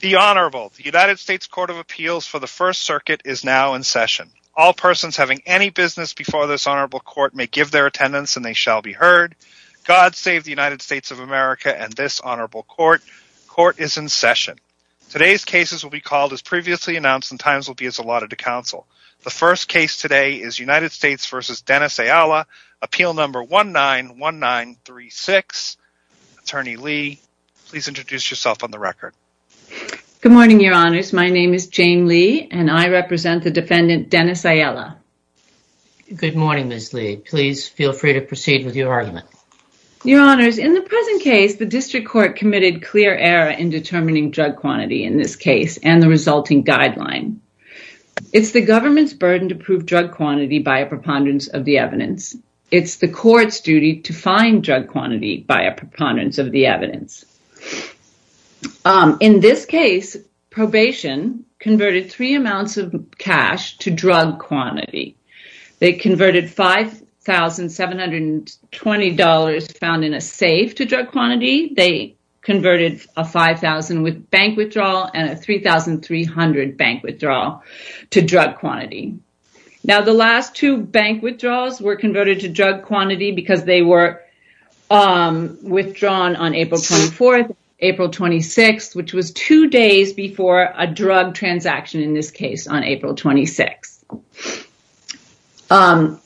The Honorable, the United States Court of Appeals for the First Circuit is now in session. All persons having any business before this Honorable Court may give their attendance and they shall be heard. God save the United States of America and this Honorable Court. Court is in session. Today's cases will be called as previously announced and times will be as allotted to counsel. The first case today is United States v. Dennis Ayala, Appeal Number 191936. Attorney Lee, please introduce yourself on the record. Good morning, Your Honors. My name is Jane Lee and I represent the defendant, Dennis Ayala. Good morning, Ms. Lee. Please feel free to proceed with your argument. Your Honors, in the present case, the district court committed clear error in determining drug quantity in this case and the resulting guideline. It's the government's burden to prove drug quantity by a preponderance of the evidence. It's the court's duty to find drug quantity. In this case, probation converted three amounts of cash to drug quantity. They converted $5,720 found in a safe to drug quantity. They converted a $5,000 bank withdrawal and a $3,300 bank withdrawal to drug quantity. Now, the last two bank withdrawals were converted to drug quantity because they were withdrawn on April 24th, April 26th, which was two days before a drug transaction in this case on April 26th.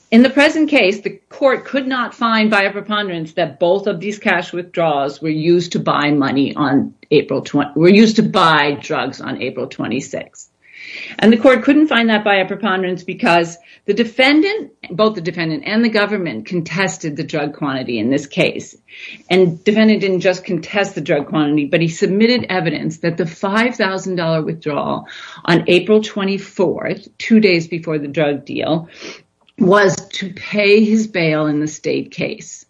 In the present case, the court could not find by a preponderance that both of these cash withdrawals were used to buy drugs on April 26th. And the court couldn't find that by a preponderance because both the defendant and government contested the drug quantity in this case. And the defendant didn't just contest the drug quantity, but he submitted evidence that the $5,000 withdrawal on April 24th, two days before the drug deal, was to pay his bail in the state case.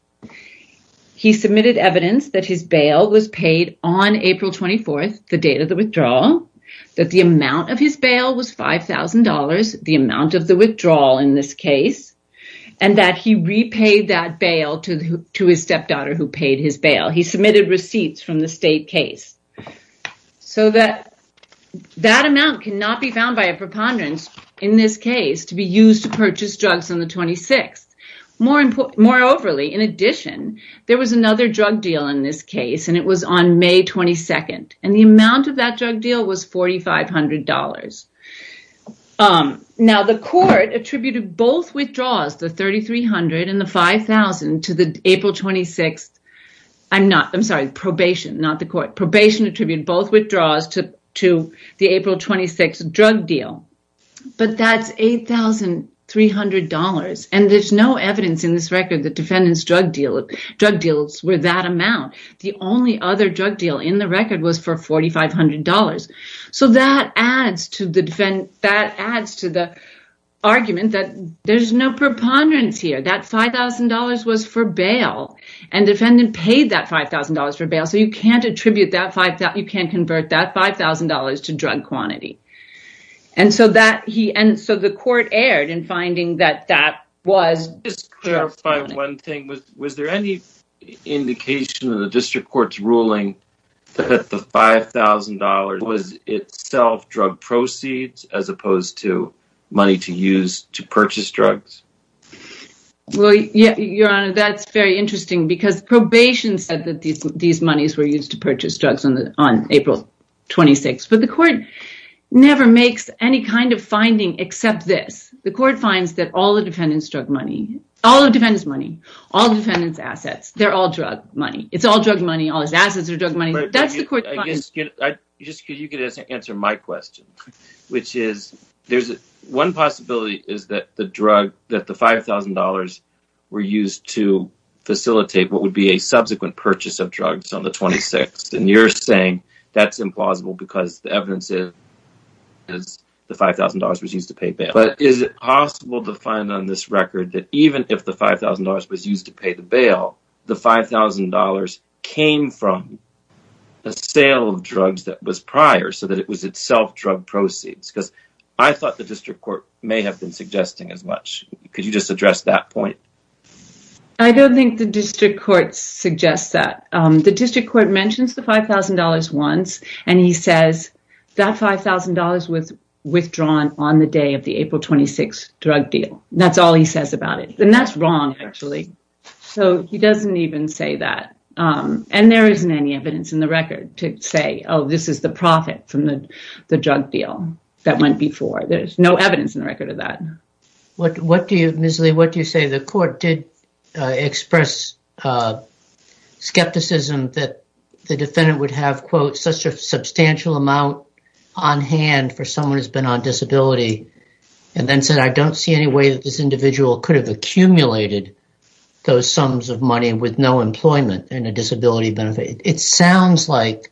He submitted evidence that his bail was paid on April 24th, the date of the withdrawal, that the amount of his bail was $5,000, the amount of withdrawal in this case, and that he repaid that bail to his stepdaughter who paid his bail. He submitted receipts from the state case so that that amount cannot be found by a preponderance in this case to be used to purchase drugs on the 26th. Moreover, in addition, there was another drug deal in this case, and it was on May 22nd, and the amount of that drug deal was $4,500. Now, the court attributed both withdrawals, the $3,300 and the $5,000, to the April 26th I'm sorry, probation, not the court. Probation attributed both withdrawals to the April 26th drug deal, but that's $8,300. And there's no evidence in this record that defendant's drug deals were that amount. The only other drug deal in the record was for $4,500. So, that adds to the argument that there's no preponderance here. That $5,000 was for bail, and defendant paid that $5,000 for bail, so you can't attribute that $5,000, you can't convert that $5,000 to drug quantity. And so, the court erred in finding that that was... Just to clarify one thing, was there any indication in the district court's ruling that the $5,000 was itself drug proceeds as opposed to money to use to purchase drugs? Your Honor, that's very interesting because probation said that these monies were used to purchase drugs on April 26th, but the court never makes any kind of finding except this. The court finds that all the defendant's drug money, all the defendant's money, all defendant's assets, they're all drug money. It's all drug money, all his assets are drug money. That's the court's finding. I guess you could answer my question, which is, one possibility is that the drug, that the $5,000 were used to facilitate what would be a subsequent purchase of drugs on the 26th. And you're saying that's implausible because the $5,000 was used to pay bail. But is it possible to find on this record that even if the $5,000 was used to pay the bail, the $5,000 came from a sale of drugs that was prior so that it was itself drug proceeds? Because I thought the district court may have been suggesting as much. Could you just address that point? I don't think the district court suggests that. The district court mentions the $5,000 once and he says that $5,000 was withdrawn on the day of the April 26 drug deal. That's all he says about it. And that's wrong actually. So he doesn't even say that. And there isn't any evidence in the record to say, oh, this is the profit from the drug deal that went before. There's no evidence in the record of that. What do you, Ms. Lee, what do you say? The court did express skepticism that the defendant would have, quote, such a substantial amount on hand for someone who's been on disability and then said, I don't see any way that this individual could have accumulated those sums of money with no employment and a disability benefit. It sounds like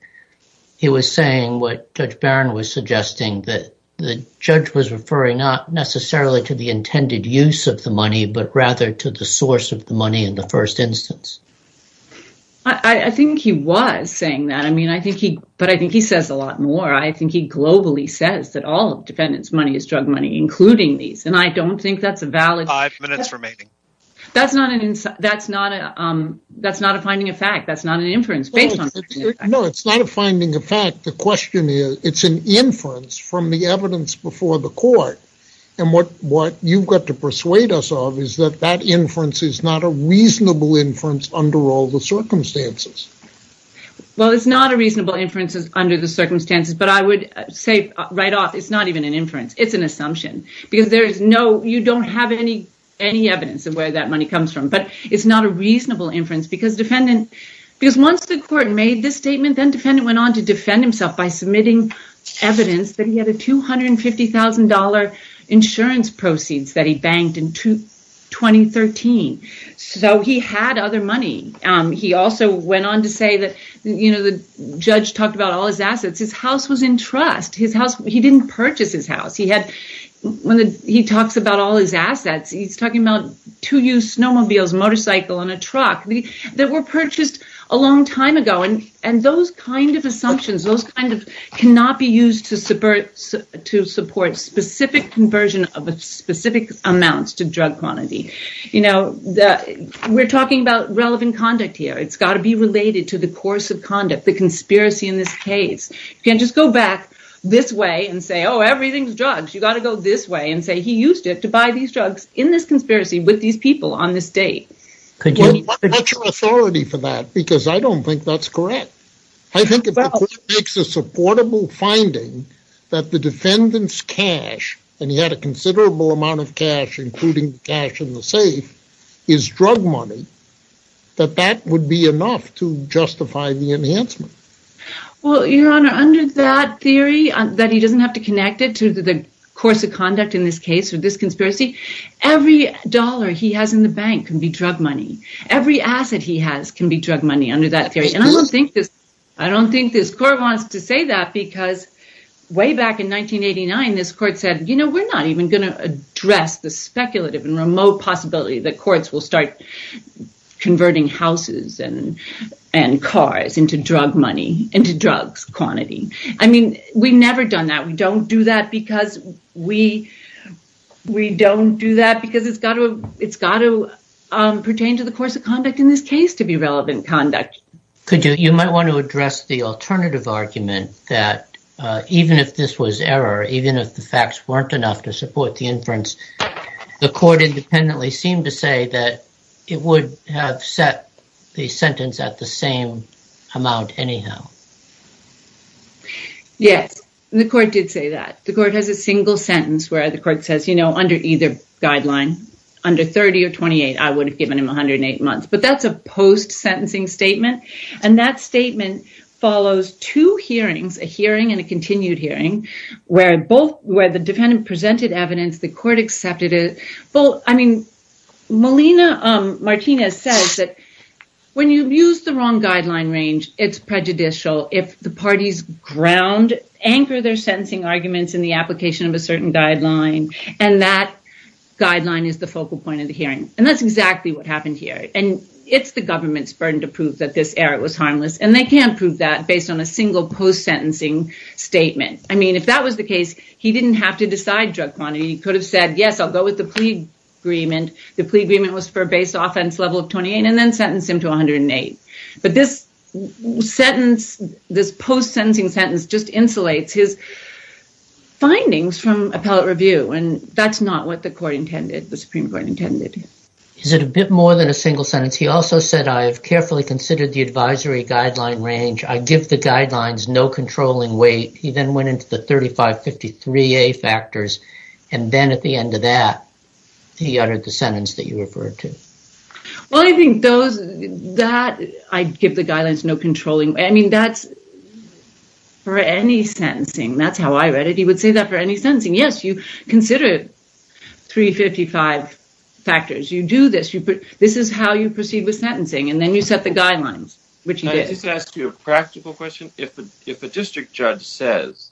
he was saying what Judge Barron was suggesting, that the judge was referring not necessarily to the intended use of the money, but rather to the source of the money in the first instance. I think he was saying that. I mean, I think he, but I think he says a lot more. I think he globally says that all of defendant's money is drug money, including these. And I don't think that's a valid- Five minutes remaining. That's not a finding of fact. That's not an inference based on- No, it's not a finding of fact. The question is, it's an inference from the evidence before the court. And what you've got to persuade us of is that that inference is not a reasonable inference under all the circumstances. Well, it's not a reasonable inferences under the circumstances, but I would say right off, it's not even an inference. It's an assumption because there is no, you don't have any, any evidence of where that money comes from, but it's not a reasonable inference because defendant, because once the court made this statement, then defendant went on to defend himself by submitting evidence that he had a $250,000 insurance proceeds that he banked in 2013. So, he had other money. He also went on to say that, you know, the judge talked about all his assets. His house was in trust. His house, he didn't purchase his house. He had, when he talks about all his assets, he's talking about two used snowmobiles, motorcycle and a truck that were purchased a long time ago. And those kinds of assumptions, those kinds of cannot be used to support specific conversion of specific amounts to drug quantity. You know, we're talking about relevant conduct here. It's got to be related to the course of conduct, the conspiracy in this case. You can't just go back this way and say, oh, everything's drugs. You got to go this way and say, he used to buy these drugs in this conspiracy with these people on this date. Could you, what's your authority for that? Because I don't think that's correct. I think if the court makes a supportable finding that the defendant's cash, and he had a considerable amount of cash, including cash in the safe, is drug money, that that would be enough to justify the enhancement. Well, your honor, under that theory that he doesn't have to connect it to the course of conspiracy, every dollar he has in the bank can be drug money. Every asset he has can be drug money under that theory. And I don't think this court wants to say that because way back in 1989, this court said, you know, we're not even going to address the speculative and remote possibility that courts will start converting houses and cars into drug money, into drugs quantity. I mean, we've never done that. We don't do that because it's got to pertain to the course of conduct in this case to be relevant conduct. Could you, you might want to address the alternative argument that even if this was error, even if the facts weren't enough to support the inference, the court independently seemed to it would have set the sentence at the same amount anyhow. Yes, the court did say that the court has a single sentence where the court says, you know, under either guideline under 30 or 28, I would have given him 108 months, but that's a post sentencing statement. And that statement follows two hearings, a hearing and a continued hearing where both where the defendant presented evidence, the court accepted it. Well, I mean, Martina says that when you use the wrong guideline range, it's prejudicial if the parties ground, anchor their sentencing arguments in the application of a certain guideline. And that guideline is the focal point of the hearing. And that's exactly what happened here. And it's the government's burden to prove that this error was harmless. And they can't prove that based on a single post sentencing statement. I mean, if that was the case, he didn't have to decide drug quantity. He could have said, yes, I'll go with the plea agreement. The plea agreement was for a base offense level of 28 and then sentence him to 108. But this sentence, this post sentencing sentence just insulates his findings from appellate review. And that's not what the court intended, the Supreme Court intended. Is it a bit more than a single sentence? He also said, I have carefully considered the advisory guideline range. I give the guidelines no controlling weight. He then went into the 3553 A factors. And then at the end of that, he uttered the sentence that you referred to. Well, I think those that I give the guidelines no controlling. I mean, that's for any sentencing. That's how I read it. He would say that for any sentencing. Yes, you consider it. Three fifty five factors. You do this. This is how you proceed with sentencing. And then you set the guidelines, which is to ask you a practical question. If a district judge says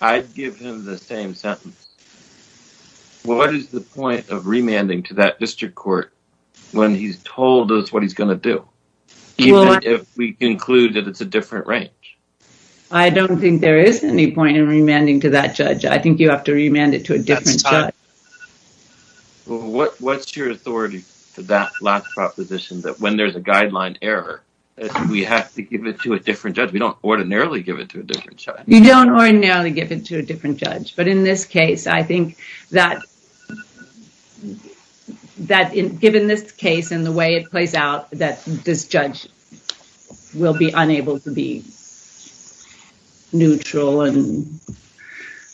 I'd give him the same sentence. What is the point of remanding to that district court when he's told us what he's going to do if we conclude that it's a different range? I don't think there is any point in remanding to that judge. I think you have to remand it to a different judge. What's your authority to that last proposition that when there's a guideline error, we have to give it to a different judge. We don't ordinarily give it to a different judge. You don't ordinarily give it to a different judge. But in this case, I think that that given this case and the way it plays out, that this judge will be unable to be neutral and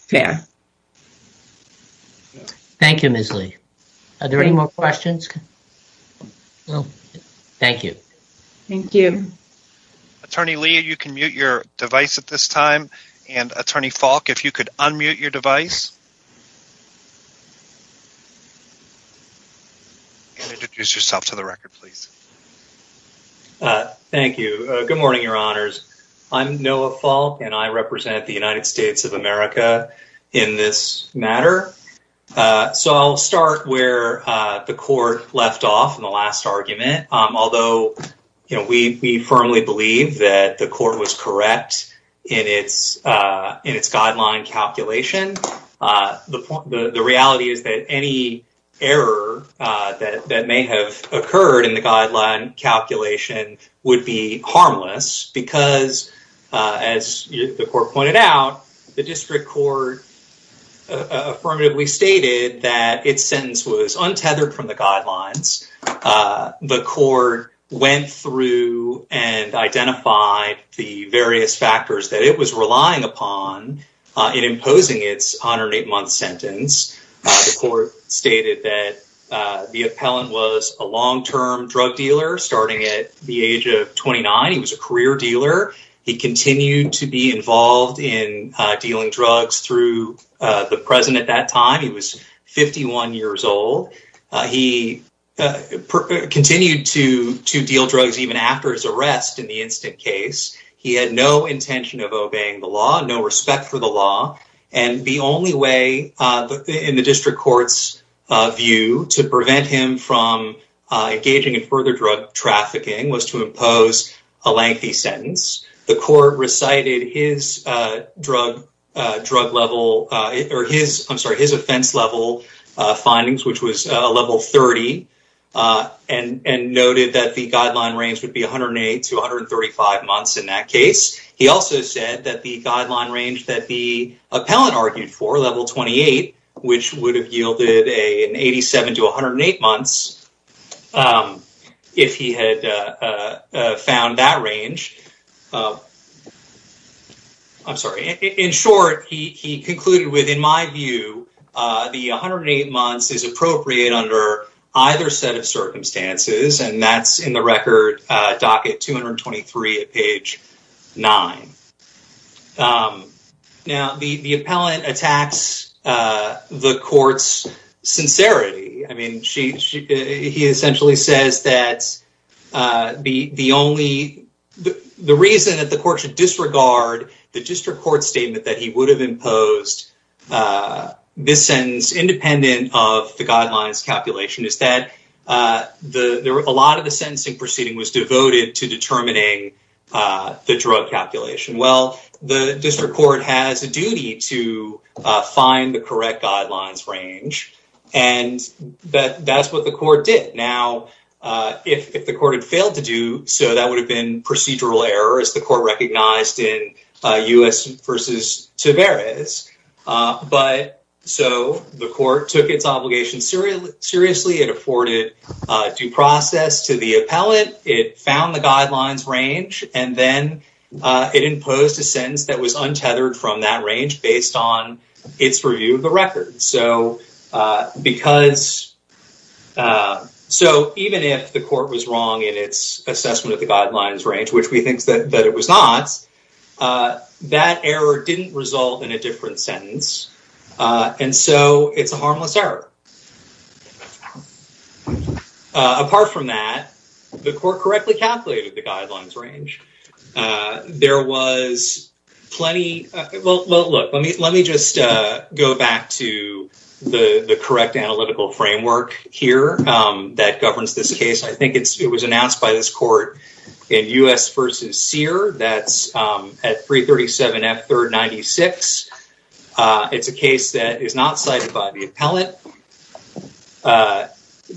fair. Thank you, Ms. Lee. Are there any more questions? Thank you. Thank you. Attorney Lee, you can mute your device at this time. And Attorney Falk, if you could unmute your device. And introduce yourself to the record, please. Thank you. Good morning, your honors. I'm Noah Falk, and I represent the United States of America in this matter. So, I'll start where the court left off in the last argument. Although we firmly believe that the court was correct in its guideline calculation, the reality is that any error that may have occurred in the guideline calculation would be harmless because, as the court pointed out, the district court affirmatively stated that its sentence was untethered from the guidelines. The court went through and identified the various factors that it was relying upon in imposing its 108-month sentence. The court stated that the appellant was a long-term drug dealer starting at the age of 29. He was a career dealer. He continued to be involved in dealing drugs through the president at that time. He was 51 years old. He continued to deal drugs even after his arrest in the instant case. He had no intention of obeying the law, no respect for law, and the only way in the district court's view to prevent him from engaging in further drug trafficking was to impose a lengthy sentence. The court recited his drug level, or his, I'm sorry, his offense level findings, which was level 30, and noted that the guideline range would be 108 to 135 months in that case. He also said that the guideline range that the appellant argued for, level 28, which would have yielded an 87 to 108 months if he had found that range, I'm sorry, in short, he concluded with, in my view, the 108 months is appropriate under either set of circumstances, and that's in the record docket 223 at page 9. Now, the appellant attacks the court's sincerity. I mean, he essentially says that the reason that the court should disregard the district court statement that he would have is that a lot of the sentencing proceeding was devoted to determining the drug calculation. Well, the district court has a duty to find the correct guidelines range, and that's what the court did. Now, if the court had failed to do so, that would have been procedural error, as the court recognized in U.S. v. Tavares, but so the court took its obligation seriously. It afforded due process to the appellant. It found the guidelines range, and then it imposed a sentence that was untethered from that range based on its review of the record. So even if the court was wrong in its assessment of the guidelines range, which we think that it was not, that error didn't result in a different sentence, and so it's a harmless error. Apart from that, the court correctly calculated the guidelines range. There was plenty... Well, look, let me just go back to the correct analytical framework here that governs this case. I think it was announced by this court in U.S. v. Sear, that's at 337 F 3rd 96. It's a case that is not cited by the appellant.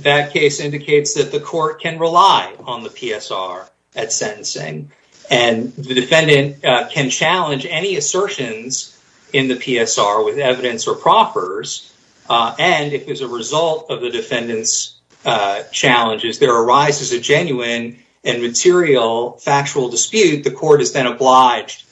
That case indicates that the court can rely on the PSR at sentencing, and the defendant can challenge any assertions in the PSR with evidence or proffers, and if as a result of the defendant's challenges there arises a genuine and material factual dispute, the court is then obliged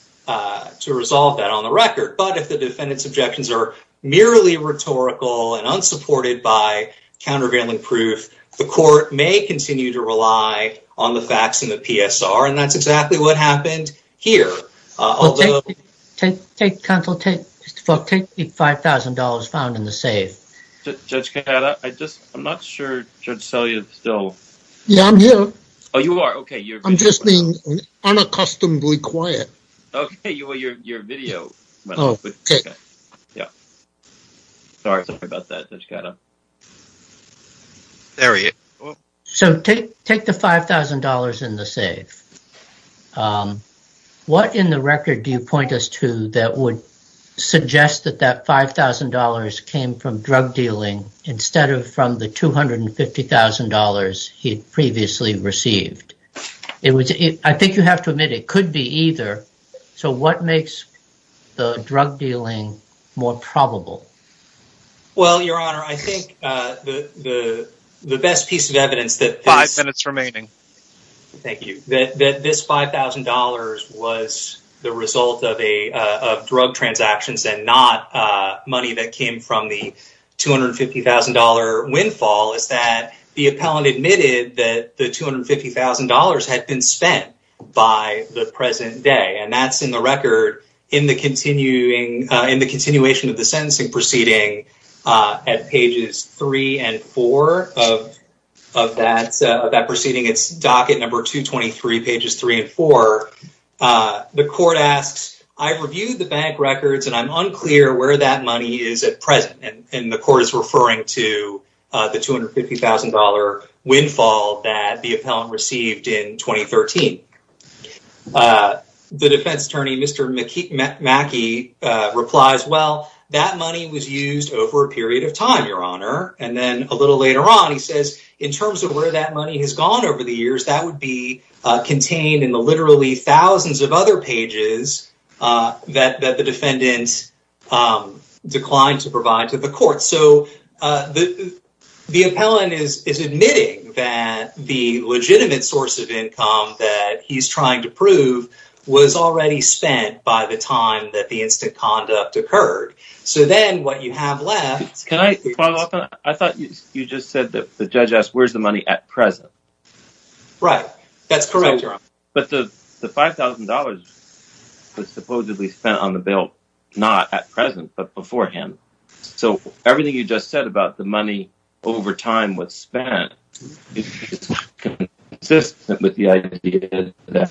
to resolve that on the record. But if the defendant's objections are merely rhetorical and unsupported by countervailing proof, the court may continue to rely on the facts in the PSR, and that's exactly what happened here. Counsel, take the $5,000 found in the safe. Judge Cata, I just, I'm not sure Judge Sellier is still... Yeah, I'm here. Oh, you are? Okay. I'm just being unaccustomedly quiet. Okay, your video went off. Sorry about that, Judge Cata. There we go. So take the $5,000 in the safe. What in the record do you point us to that would suggest that that $5,000 came from drug dealing instead of from the $250,000 he'd previously received? I think you have to admit it could be either, so what makes the drug dealing more probable? Well, your honor, I think the best piece of evidence that... Five minutes remaining. Thank you. That this $5,000 was the result of drug transactions and not money that came from the $250,000 windfall is that the appellant admitted that the $250,000 had been spent by the present day, and that's in the record in the continuation of the sentencing proceeding at pages three and four of that proceeding. It's docket number 223, pages three and four. The court asks, I've reviewed the bank records and I'm unclear where that money is at present, and the court is referring to the $250,000 windfall that the appellant received in 2013. The defense attorney, Mr. Mackey, replies, well, that money was used over a period of time, your honor, and then a little later on he says, in terms of where that money has gone over the years, that would be contained in the literally thousands of other pages that the defendant declined to provide to the court. The appellant is admitting that the legitimate source of income that he's trying to prove was already spent by the time that the instant conduct occurred, so then what you have left... Can I follow up on that? I thought you just said that the judge asked, where's the money at present? Right. That's correct, your honor. But the $5,000 was supposedly spent on the bill not at present, but beforehand, so everything you just said about the money over time was spent is consistent with the idea that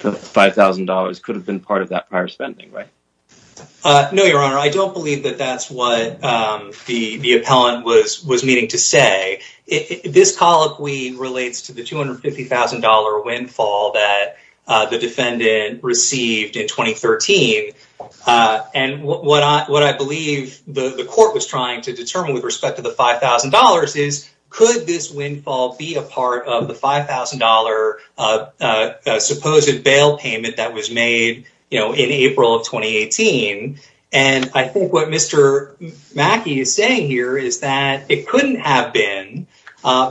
the $5,000 could have been part of that prior spending, right? No, your honor. I don't believe that that's what the appellant was meaning to say. This colloquy relates to the $250,000 windfall that the defendant received in 2013. And what I believe the court was trying to determine with respect to the $5,000 is, could this windfall be a part of the $5,000 supposed bail payment that was made in April of 2018? And I think what Mr. Mackey is saying here is that it couldn't have been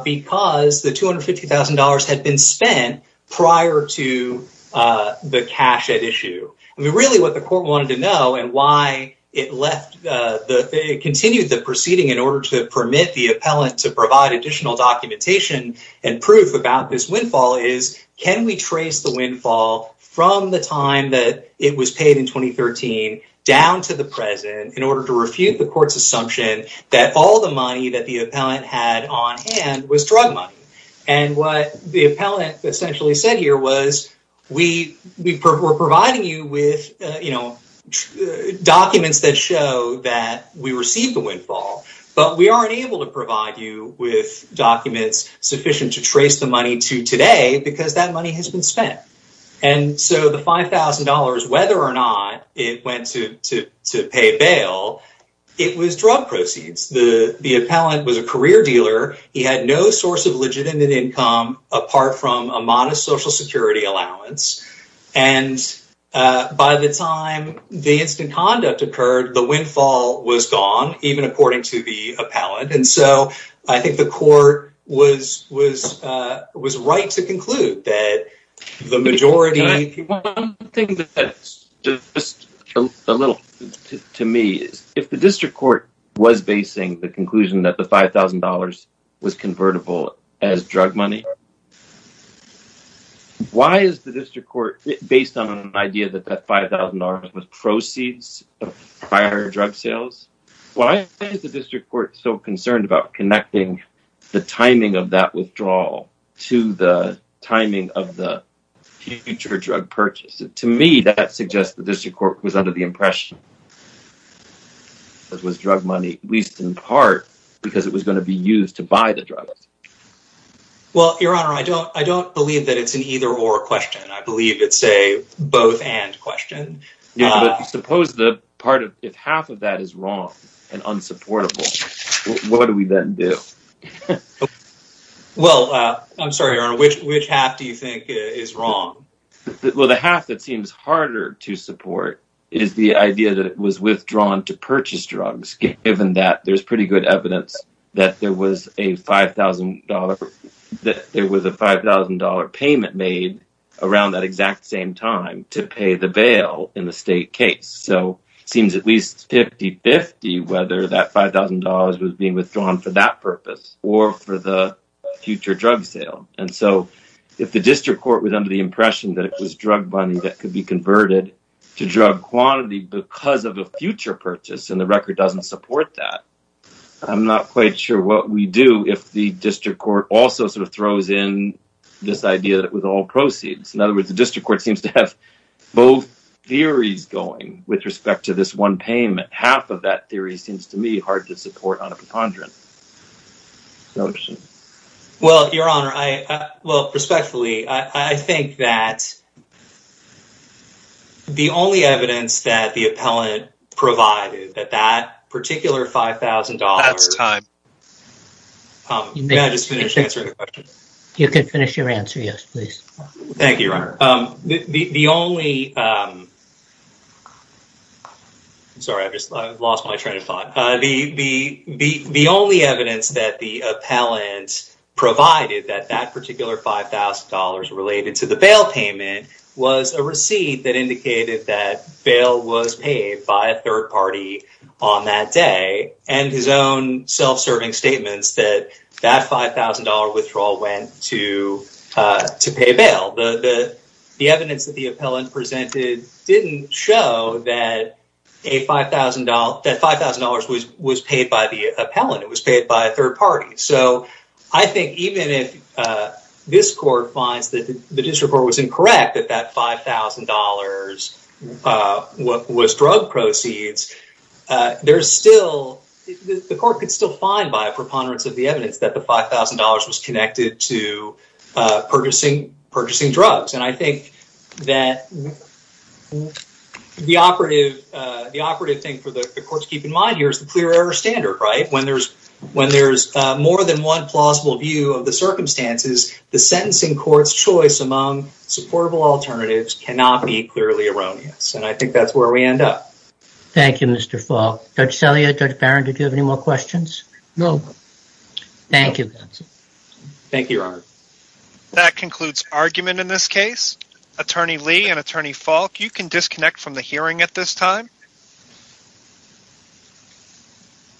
because the $250,000 had been spent prior to the cash at issue. Really what the court wanted to know and why it continued the proceeding in order to permit the appellant to provide additional documentation and proof about this windfall is, can we trace the windfall from the time that it was paid in 2013 down to the present in order to refute the court's assumption that all the money that the appellant essentially said here was, we're providing you with documents that show that we received the windfall, but we aren't able to provide you with documents sufficient to trace the money to today because that money has been spent. And so the $5,000, whether or not it went to pay bail, it was drug proceeds. The appellant was a career dealer. He had no source of legitimate income apart from a modest social security allowance. And by the time the instant conduct occurred, the windfall was gone, even according to the appellant. And so I think the court was right to conclude that the majority... One thing that's just a little, to me, if the district court was basing the conclusion that the $5,000 was convertible as drug money, why is the district court, based on an idea that that $5,000 was proceeds of prior drug sales, why is the district court so concerned about connecting the timing of that withdrawal to the timing of the future drug purchase? To me, that suggests the district court was under the impression that it was drug money, at least in part, because it was going to be used to buy drugs. Well, Your Honor, I don't believe that it's an either or question. I believe it's a both and question. Yeah, but suppose if half of that is wrong and unsupportable, what do we then do? Well, I'm sorry, Your Honor, which half do you think is wrong? Well, the half that seems harder to support is the idea that it was withdrawn to purchase drugs, given that there's pretty good evidence that there was a $5,000 payment made around that exact same time to pay the bail in the state case. So, it seems at least 50-50 whether that $5,000 was being withdrawn for that purpose or for the future drug sale. And so, if the district court was under the impression that it was drug money that could be converted to drug quantity because of a future purchase and the I'm not quite sure what we do if the district court also sort of throws in this idea that with all proceeds. In other words, the district court seems to have both theories going with respect to this one payment. Half of that theory seems to me hard to support on a preponderance notion. Well, Your Honor, well, respectfully, I think that the only evidence that the appellant provided that that particular $5,000... That's time. May I just finish answering the question? You can finish your answer, yes, please. Thank you, Your Honor. The only... I'm sorry, I just lost my train of thought. The only evidence that the appellant provided that that particular $5,000 related to the bail payment was a receipt that indicated that bail was paid by a third party on that day and his own self-serving statements that that $5,000 withdrawal went to pay bail. The evidence that the appellant presented didn't show that that $5,000 was paid by the appellant. It was paid by a third party. So, I think even if this court finds that the district court was incorrect that that $5,000 was drug proceeds, the court could still find by a preponderance of the evidence that the $5,000 was connected to purchasing drugs. And I think that the operative thing for the court to keep in mind here is the clear error standard, right? When there's more than one plausible view of the circumstances, the sentencing court's choice among supportable alternatives cannot be clearly erroneous. And I think that's where we end up. Thank you, Mr. Falk. Judge Celia, Judge Barron, did you have any more questions? No. Thank you. Thank you, Your Honor. That concludes argument in this case. Attorney Lee and Attorney Falk, you can disconnect from the hearing at this time.